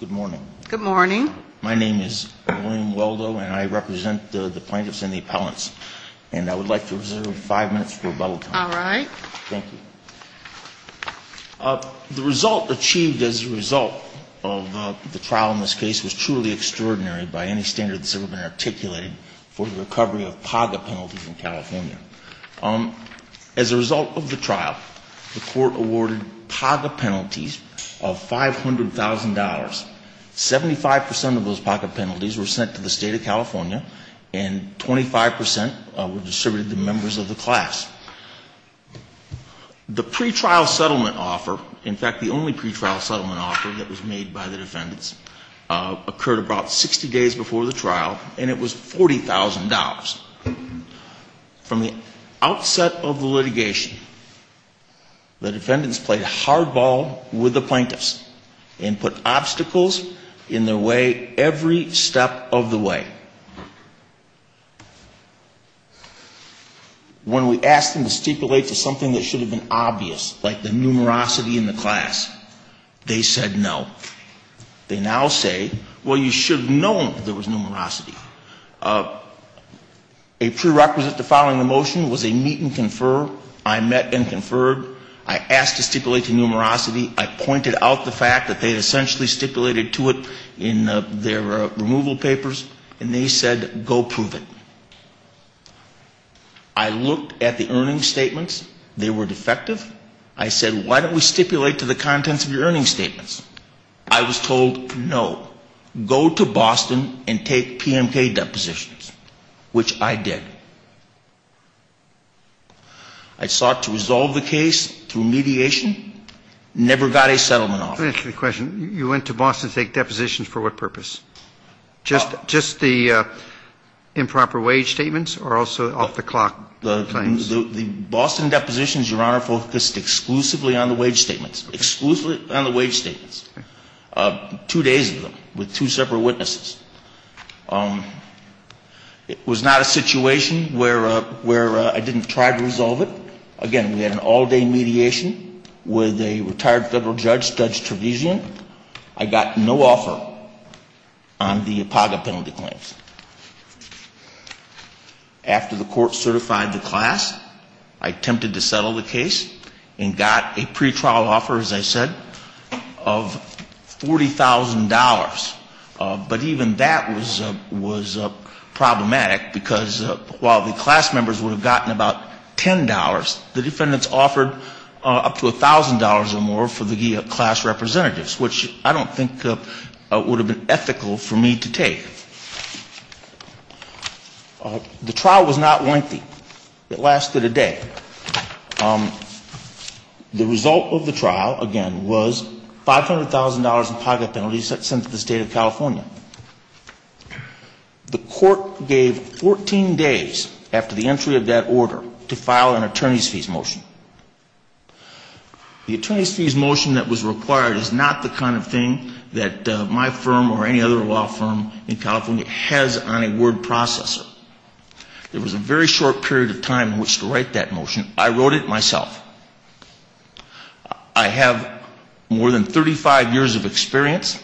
Good morning. Good morning. My name is William Weldo, and I represent the plaintiffs and the appellants. And I would like to reserve five minutes for rebuttal time. All right. Thank you. The result achieved as a result of the trial in this case was truly extraordinary by any standard that's ever been articulated for the recovery of PAGA penalties in California. As a result of the trial, the court awarded PAGA penalties of $500,000. Seventy-five percent of those PAGA penalties were sent to the State of California, and 25 percent were distributed to members of the class. The pretrial settlement offer, in fact, the only pretrial settlement offer that was made by the defendants, occurred about 60 days before the trial, and it was $40,000. From the outset of the litigation, the defendants played hardball with the plaintiffs and put obstacles in their way every step of the way. When we asked them to stipulate to something that should have been obvious, like the numerosity in the class, they said no. They now say, well, you should have known there was numerosity. A prerequisite to filing a motion was a meet and confer. I met and conferred. I asked to stipulate to numerosity. I pointed out the fact that they had essentially stipulated to it in their removal papers, and they said, go prove it. I looked at the earnings statements. They were defective. I said, why don't we stipulate to the contents of your earnings statements? I was told, no, go to Boston and take PMK depositions, which I did. I sought to resolve the case through mediation, never got a settlement offer. Let me ask you a question. You went to Boston to take depositions for what purpose? Just the improper wage statements or also off-the-clock claims? The Boston depositions, Your Honor, focused exclusively on the wage statements, exclusively on the wage statements. Two days of them with two separate witnesses. It was not a situation where I didn't try to resolve it. Again, we had an all-day mediation with a retired federal judge, Judge Trevisian. I got no offer on the APAGA penalty claims. After the court certified the class, I attempted to settle the case and got a pretrial offer, as I said, of $40,000, but even that was problematic because while the class members would have gotten about $10, the defendants offered up to $1,000 or more for the class representatives, which I don't think would have been ethical for me to take. The trial was not lengthy. It lasted a day. The result of the trial, again, was $500,000 in pocket penalties sent to the State of California. The court gave 14 days after the entry of that order to file an attorney's fees motion. The attorney's fees motion that was required is not the kind of thing that my firm or any other law firm in California has on a word processor. There was a very short period of time in which to write that motion. I wrote it myself. I have more than 35 years of experience.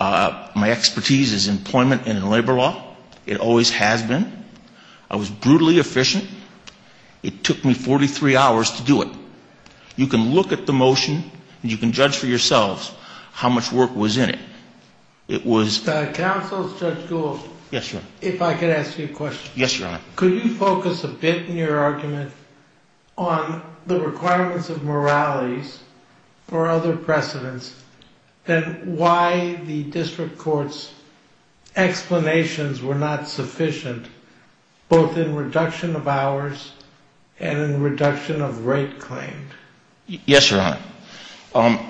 My expertise is employment and in labor law. It always has been. I was brutally efficient. It took me 43 hours to do it. You can look at the motion and you can judge for yourselves how much work was in it. Counsel, Judge Gould, if I could ask you a question. Could you focus a bit in your argument on the requirements of moralities or other precedents and why the district court's explanations were not sufficient, both in reduction of hours and in reduction of rate claims? Yes, Your Honor.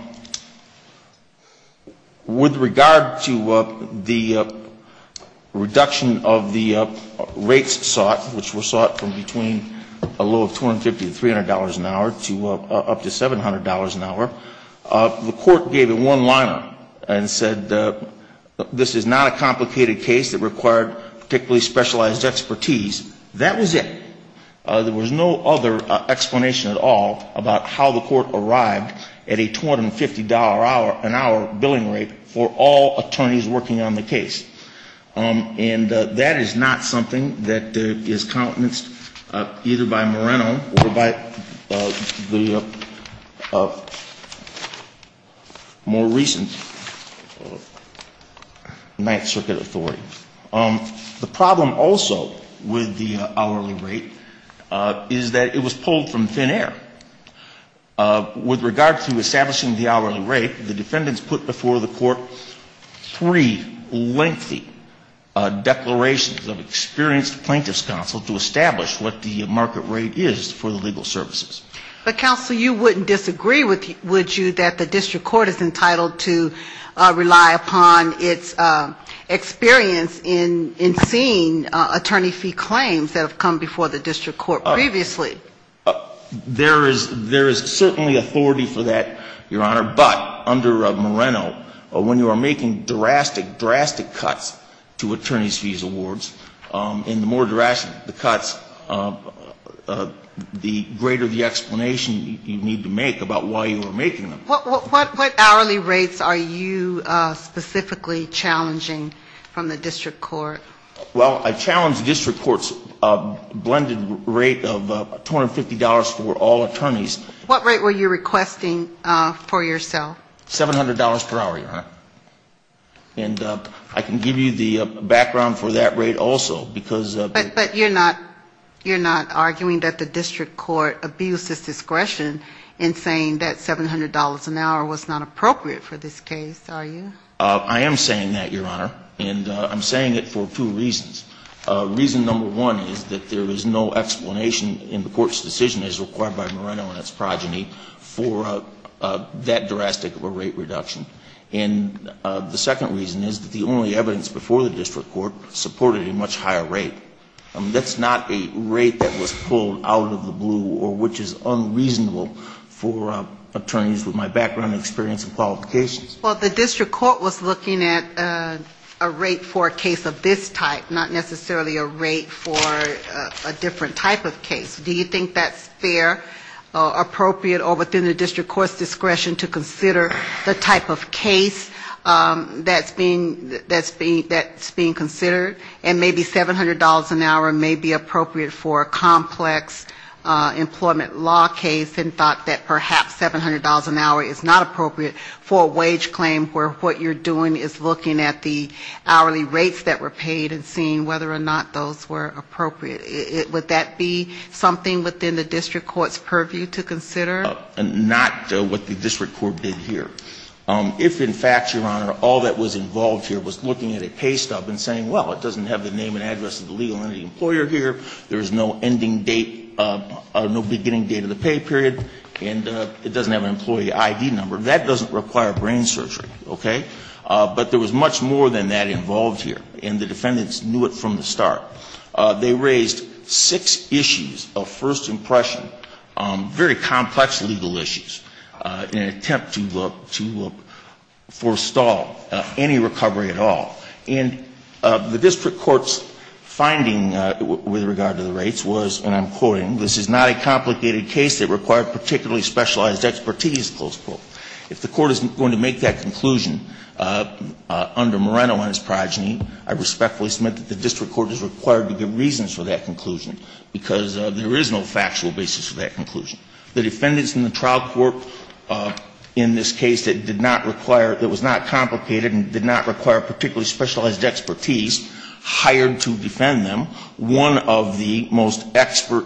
With regard to the reduction of the rates sought, which were sought from between a low of $250 to $300 an hour to up to $700 an hour, the court gave it one liner and said this is not a complicated case that required particularly specialized expertise. That was it. There was no other explanation at all about how the court arrived at a $250 an hour billing rate for all attorneys working on the case. And that is not something that is countenanced either by Moreno or by the more recent Ninth Circuit authority. The problem also with the hourly rate is that it was pulled from thin air. With regard to establishing the hourly rate, the defendants put before the court three lengthy declarations of experienced plaintiff's counsel to establish what the market rate is for the legal services. But, counsel, you wouldn't disagree, would you, that the district court is entitled to rely upon its experience to establish what the market rate is for the legal services? I mean, the district court is entitled to rely upon its experience in seeing attorney fee claims that have come before the district court previously. There is certainly authority for that, Your Honor, but under Moreno, when you are making drastic, drastic cuts to attorney's fees awards, and the more drastic the cuts, the greater the explanation you need to make about why you are making them. What hourly rates are you specifically challenging from the district court? Well, I challenge the district court's blended rate of $250 for all attorneys. What rate were you requesting for yourself? $700 per hour, Your Honor. And I can give you the background for that rate also, because... But you're not arguing that the district court abused its discretion in saying that $700 an hour was not appropriate for this case, are you? I am saying that, Your Honor, and I'm saying it for two reasons. Reason number one is that there is no explanation in the court's decision as required by Moreno and its progeny for that drastic of a rate reduction. And the second reason is that the only evidence before the district court supported a much higher rate. That's not a rate that was pulled out of the blue or which is unreasonable for attorneys with my background experience and qualifications. Well, the district court was looking at a rate for a case of this type, not necessarily a rate for a different type of case. Do you think that's fair, appropriate, or within the district court's discretion to consider the type of case that's being considered? And maybe $700 an hour may be appropriate for a complex employment law case, and thought that perhaps $700 an hour is not appropriate for a wage claim where what you're doing is looking at the hourly rates that were paid and seeing whether or not those were appropriate. Would that be something within the district court's purview to consider? Not what the district court did here. If, in fact, Your Honor, all that was involved here was looking at a pay stub and saying, well, it doesn't have the name and address of the legal entity employer here, there is no ending date, no beginning date of the pay period, and it doesn't have an employee ID number, that doesn't require brain surgery. Okay? But there was much more than that involved here, and the defendants knew it from the start. They raised six issues of first impression, very complex legal issues, in an attempt to look to forestall any recovery at all. And the district court's finding with regard to the rates was, and I'm quoting, this is not a complicated case that required particularly specialized expertise, close quote. If the court is going to make that conclusion under Moreno and his progeny, I respectfully submit that the district court is required to give reasons for that conclusion because there is no factual basis for that conclusion. The defendants in the trial court in this case that did not require, that was not complicated and did not require particularly specialized expertise, hired to defend them one of the most expert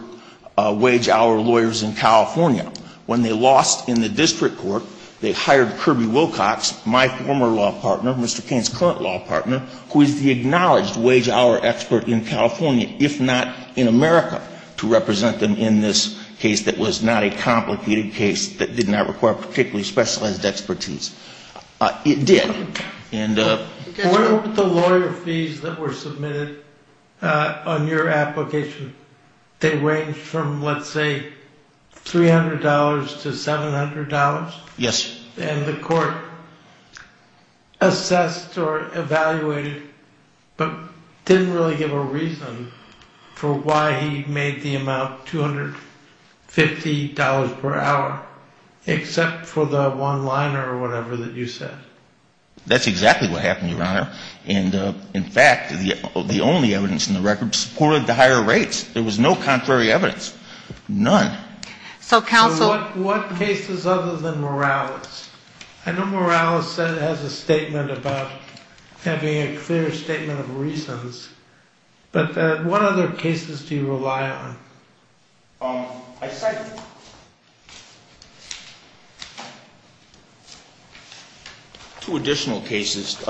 wage-hour lawyers in California. When they lost in the district court, they hired Kirby Wilcox, my former law partner, Mr. Cain's current law partner, who is the acknowledged wage-hour expert in California, if not in America, to represent them in this case that was not a complicated case that did not require particularly specialized expertise. It did. And... What about the lawyer fees that were submitted on your application? They ranged from, let's say, $300 to $700? Yes. And the court assessed or evaluated but didn't really give a reason for why he made the amount $250 per hour except for the one-liner or whatever that you said. That's exactly what happened, Your Honor. And, in fact, the only evidence in the record supported the higher rates. There was no contrary evidence. None. So counsel... What cases other than Morales? I know Morales has a statement about having a clear statement of reasons, but what other cases do you rely on? I cite two additional cases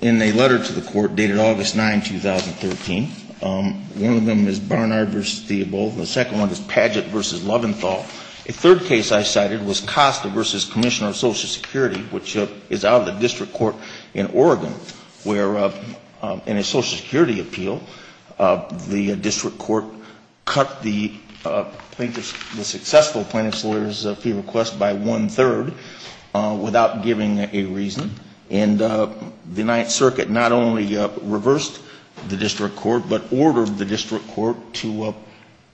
in a letter to the court dated August 9, 2013. One of them is Barnard v. Theobald. The second one is Padgett v. Loventhal. A third case I cited was Costa v. Commissioner of Social Security, which is out of the district court in Oregon, where in a Social Security appeal, the district court cut the plaintiff's, the successful plaintiff's lawyer's fee request by one-third without giving a reason. And the Ninth Circuit not only reversed the district court but ordered the district court to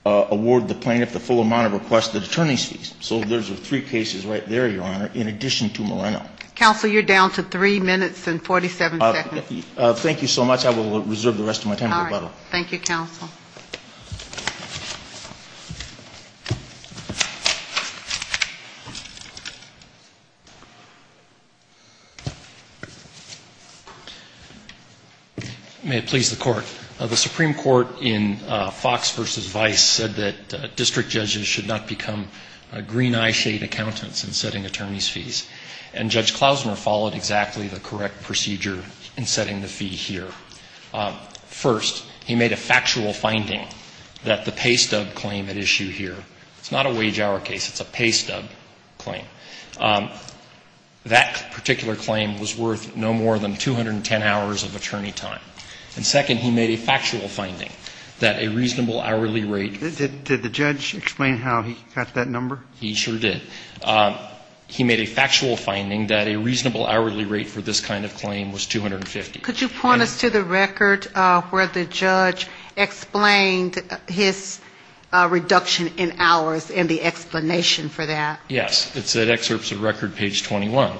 award the plaintiff the full amount of requested attorney's fees. So those are three cases right there, Your Honor, in addition to Moreno. Counsel, you're down to three minutes and 47 seconds. Thank you so much. I will reserve the rest of my time to rebuttal. All right. Thank you, counsel. May it please the Court. The Supreme Court in Fox v. Vice said that district judges should not become green-eye shade accountants in setting attorney's fees. And Judge Klausner followed exactly the correct procedure in setting the fee here. First, he made a factual finding that the pay stub claim at issue here, it's not a wage hour case, it's a pay stub claim, that particular claim was worth no more than 210 hours of attorney time. And second, he made a factual finding that a reasonable hourly rate. Did the judge explain how he got that number? He sure did. He made a factual finding that a reasonable hourly rate for this kind of claim was 250. Could you point us to the record where the judge explained his reduction in hours and the explanation for that? Yes. It's at excerpts of record page 21.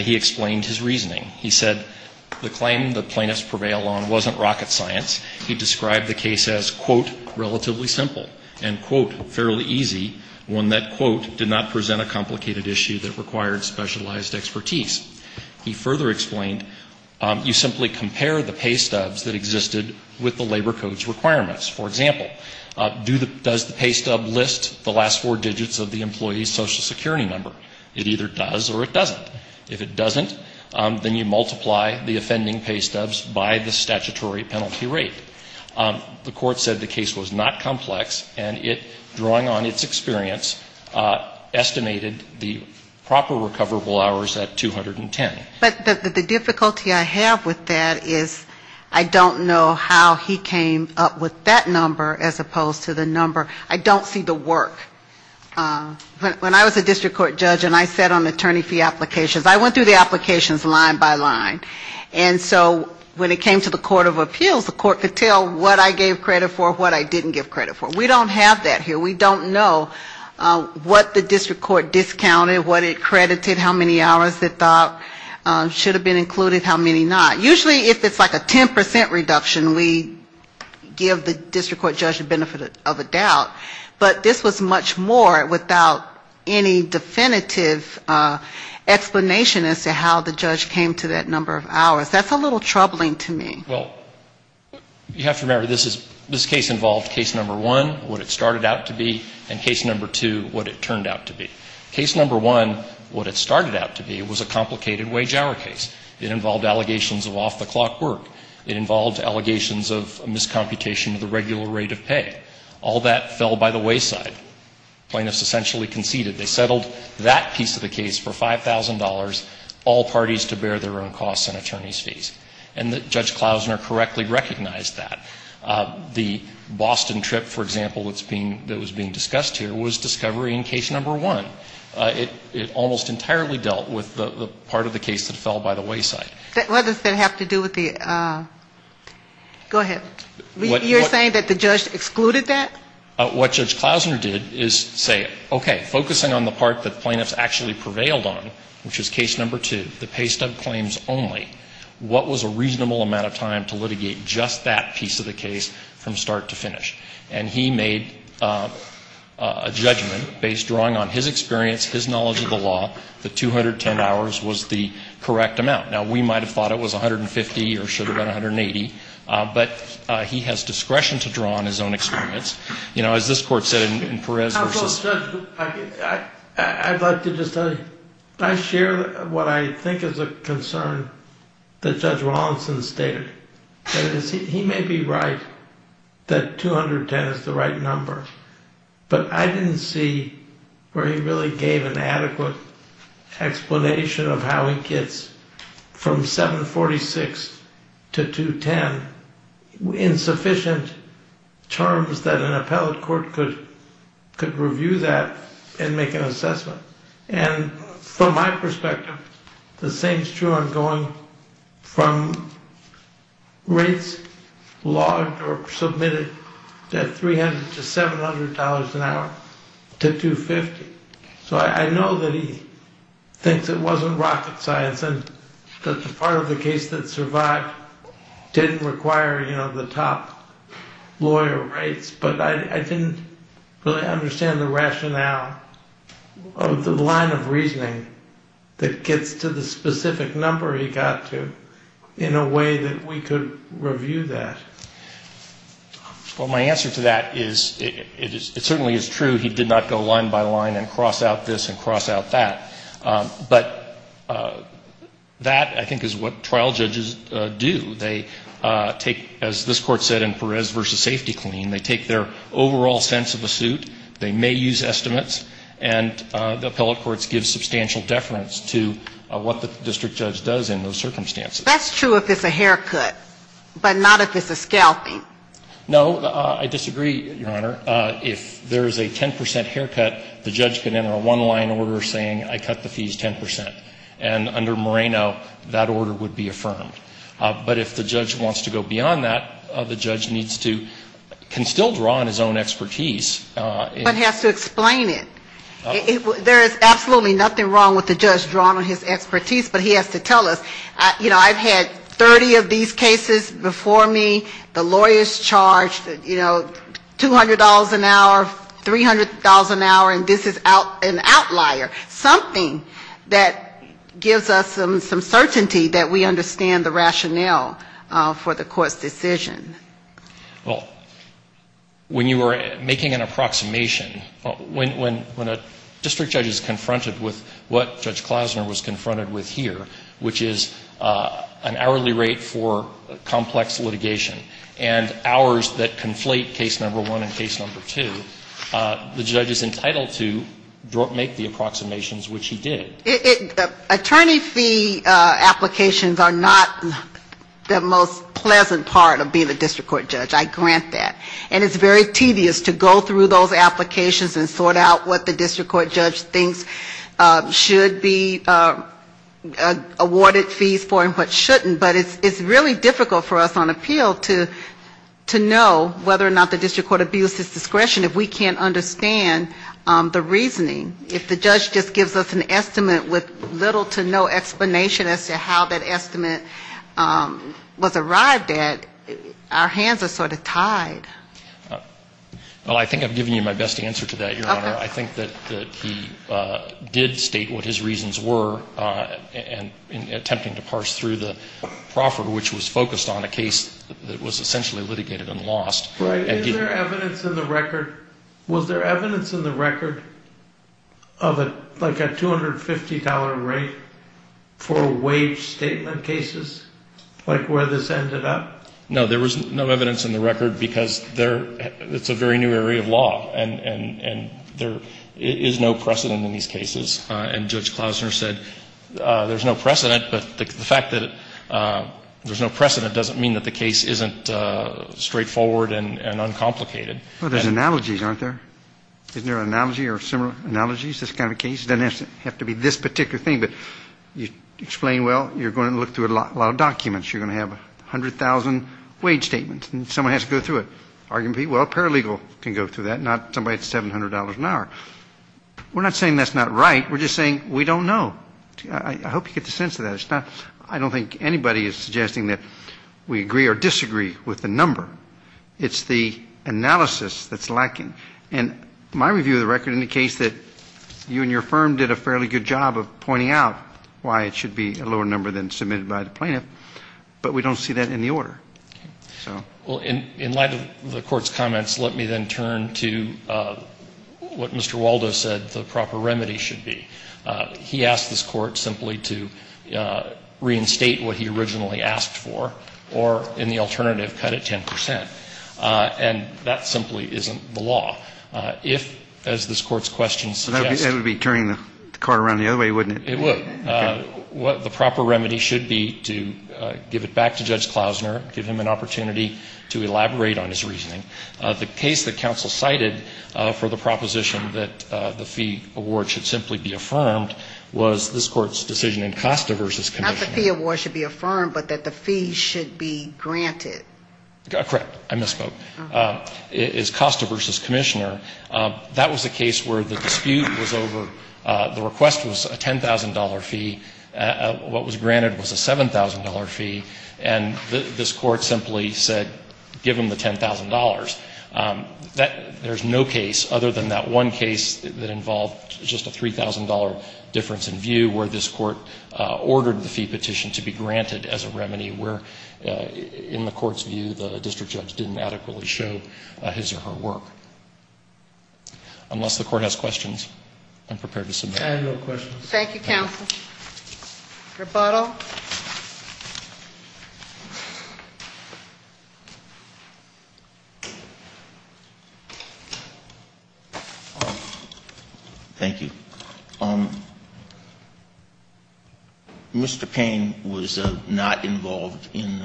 He explained his reasoning. He said the claim the plaintiffs prevail on wasn't rocket science. He described the case as, quote, relatively simple and, quote, fairly easy, one that, quote, did not present a complicated issue that required specialized expertise. He further explained you simply compare the pay stubs that existed with the Labor Code's requirements. For example, does the pay stub list the last four digits of the employee's Social Security number? It either does or it doesn't. If it doesn't, then you multiply the offending pay stubs by the statutory penalty rate. The Court said the case was not complex, and it, drawing on its experience, estimated the proper recoverable hours at 210. But the difficulty I have with that is I don't know how he came up with that number as opposed to the number. I don't see the work. When I was a district court judge and I sat on attorney fee applications, I went through the applications line by line. And so when it came to the court of appeals, the court could tell what I gave credit for, what I didn't give credit for. We don't have that here. We don't know what the district court discounted, what it credited, how many hours it thought should have been included, how many not. Usually if it's like a 10% reduction, we give the district court judge the benefit of the doubt. But this was much more without any definitive explanation as to how the judge came to that number of hours. That's a little troubling to me. Well, you have to remember this case involved case number one, what it started out to be, and case number two, what it turned out to be. Case number one, what it started out to be, was a complicated wage-hour case. It involved allegations of off-the-clock work. It involved allegations of miscomputation of the regular rate of pay. All that fell by the wayside. Plaintiffs essentially conceded. They settled that piece of the case for $5,000, all parties to bear their own costs and attorney's fees. And Judge Klausner correctly recognized that. The Boston trip, for example, that was being discussed here was discovery in case number one. It almost entirely dealt with the part of the case that fell by the wayside. What does that have to do with the, go ahead. You're saying that the judge excluded that? What Judge Klausner did is say, okay, focusing on the part that plaintiffs actually prevailed on, which is case number two, the pay stub claims only, what was a reasonable amount of time to litigate just that piece of the case from start to finish? And he made a judgment based, drawing on his experience, his knowledge of the law, that 210 hours was the correct amount. He might have thought it was 150 or should have been 180. But he has discretion to draw on his own experience. As this court said in Perez v. I'd like to just, I share what I think is a concern that Judge Rawlinson stated. He may be right that 210 is the right number. But I didn't see where he really gave an adequate explanation of how he gets from start to finish. From 746 to 210 in sufficient terms that an appellate court could review that and make an assessment. And from my perspective, the same is true on going from rates logged or submitted at $300 to $700 an hour to 250. So I know that he thinks it wasn't rocket science and that the part of the case that survived didn't require, you know, the top lawyer rates. But I didn't really understand the rationale of the line of reasoning that gets to the specific number he got to in a way that we could review that. Well, my answer to that is it certainly is true he did not go line by line and cross out this and cross out that. But that I think is what trial judges do. They take, as this Court said in Perez v. Safety Clean, they take their overall sense of the suit. They may use estimates. And the appellate courts give substantial deference to what the district judge does in those circumstances. That's true if it's a haircut, but not if it's a scalping. No, I disagree, Your Honor. If there is a 10 percent haircut, the judge can enter a one-line order saying I cut the fees 10 percent. And under Moreno, that order would be affirmed. But if the judge wants to go beyond that, the judge needs to can still draw on his own expertise. But has to explain it. There is absolutely nothing wrong with the judge drawing on his expertise, but he has to tell us, you know, I've had 30 of these cases before me, the lawyers charged, you know, $200 an hour, $300 an hour, and this is an outlier. Something that gives us some certainty that we understand the rationale for the court's decision. Well, when you were making an approximation, when a district judge is confronted with what Judge Klausner was confronted with here, which is an hourly rate for complex litigation and hours that conflate case number one and case number two, the judge is entitled to make the approximations, which he did. Attorney fee applications are not the most pleasant part of being a district court judge, I grant that. And it's very tedious to go through those applications and sort out what the district court judge thinks should be awarded fees for and what shouldn't, but it's really difficult for us on appeal to know whether or not the district court abuses discretion if we can't understand the reasoning. If the judge just gives us an estimate with little to no explanation as to how that estimate was arrived at, our hands are sort of tied. Well, I think I've given you my best answer to that, Your Honor. I think that he did state what his reasons were in attempting to parse through the proffer, which was focused on a case that was essentially litigated and lost. Was there evidence in the record of like a $250 rate for wage statement cases, like where this ended up? No, there was no evidence in the record because it's a very new area of law and there is no precedent in these cases. And Judge Klausner said there's no precedent, but the fact that there's no precedent doesn't mean that the case isn't straightforward and uncomplicated. Well, there's analogies, aren't there? Isn't there an analogy or similar analogies to this kind of case? It doesn't have to be this particular thing, but you explain, well, you're going to look through a lot of documents. You're going to have 100,000 wage statements and someone has to go through it. Arguably, well, a paralegal can go through that, not somebody at $700 an hour. We're not saying that's not right. We're just saying we don't know. I hope you get the sense of that. I don't think anybody is suggesting that we agree or disagree with the number. It's the analysis that's lacking. And my review of the record indicates that you and your firm did a fairly good job of pointing out why it should be a lower number than submitted by the plaintiff, but we don't see that in the order. Well, in light of the Court's comments, let me then turn to what Mr. Waldo said the proper remedy should be. He asked this Court simply to reinstate what he originally asked for or, in the alternative, cut it 10 percent. And that simply isn't the law. If, as this Court's question suggests — I'll give him an opportunity to elaborate on his reasoning. The case that counsel cited for the proposition that the fee award should simply be affirmed was this Court's decision in Costa v. Commissioner. Not the fee award should be affirmed, but that the fee should be granted. Correct. I misspoke. It's Costa v. Commissioner. That was a case where the dispute was over — the request was a $10,000 fee. What was granted was a $7,000 fee. And this Court simply said, give him the $10,000. There's no case other than that one case that involved just a $3,000 difference in view where this Court ordered the fee petition to be granted as a remedy where, in the Court's view, the district judge didn't adequately show his or her work. Unless the Court has questions, I'm prepared to submit. I have no questions. Thank you, counsel. Rebuttal. Thank you. Mr. Payne was not involved in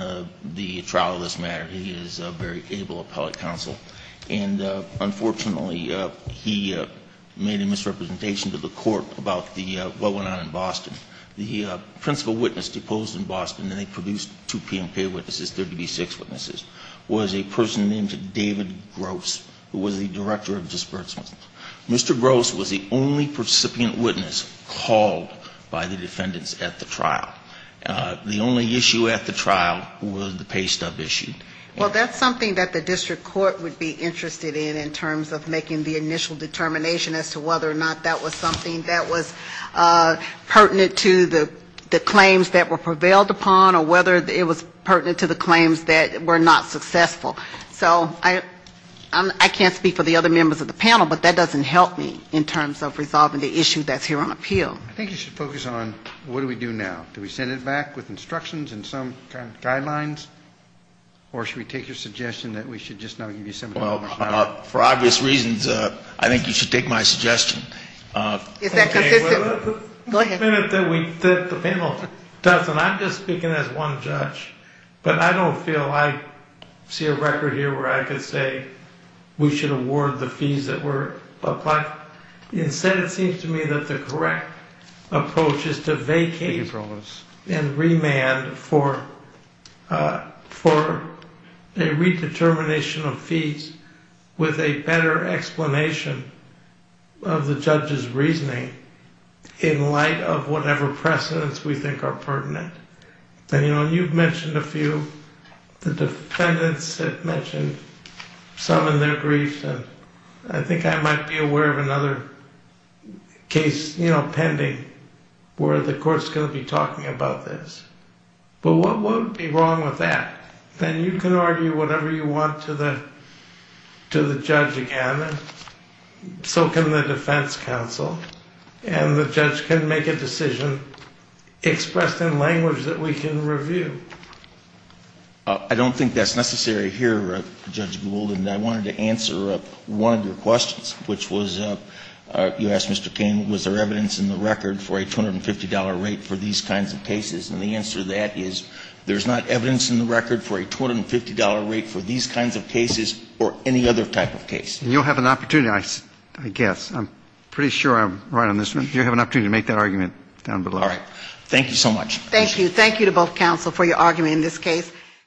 the trial of this matter. He is a very able appellate counsel. And unfortunately, he made a misrepresentation to the Court about the — what went on in Boston. The principal witness deposed in Boston, and they produced two PMP witnesses, 36 witnesses, was a person named David Gross, who was the director of disbursements. Mr. Gross was the only recipient witness called by the defendants at the trial. The only issue at the trial was the pay stub issue. Well, that's something that the district court would be interested in in terms of making the initial determination as to whether or not that was something that was pertinent to the claims that were prevailed upon or whether it was pertinent to the claims that were not successful. So I can't speak for the other members of the panel, but that doesn't help me in terms of resolving the issue that's here on appeal. I think you should focus on what do we do now. Do we send it back with instructions and some kind of guidelines? Or should we take your suggestion that we should just now give you some — Well, for obvious reasons, I think you should take my suggestion. Is that consistent? Go ahead. The panel doesn't. I'm just speaking as one judge. But I don't feel I see a record here where I could say we should award the fees that were applied. Instead, it seems to me that the correct approach is to vacate the appeals and remand for a redetermination of fees with a better explanation of the judge's reasoning in light of whatever precedents we think are pertinent. And you know, you've mentioned a few. The defendants have mentioned some in their briefs, and I think I might be aware of another case pending where the court's going to be talking about this. But what would be wrong with that? Then you can argue whatever you want to the judge again, and so can the defense counsel. And the judge can make a decision expressed in language that we can review. I don't think that's necessary here, Judge Gould, and I wanted to answer one of your questions, which was you asked Mr. King, was there evidence in the record for a $250 rate for these kinds of cases? And the answer to that is there's not evidence in the record for a $250 rate for these kinds of cases or any other type of case. And you'll have an opportunity, I guess. I'm pretty sure I'm right on this one. You'll have an opportunity to make that argument down below. All right. Thank you so much.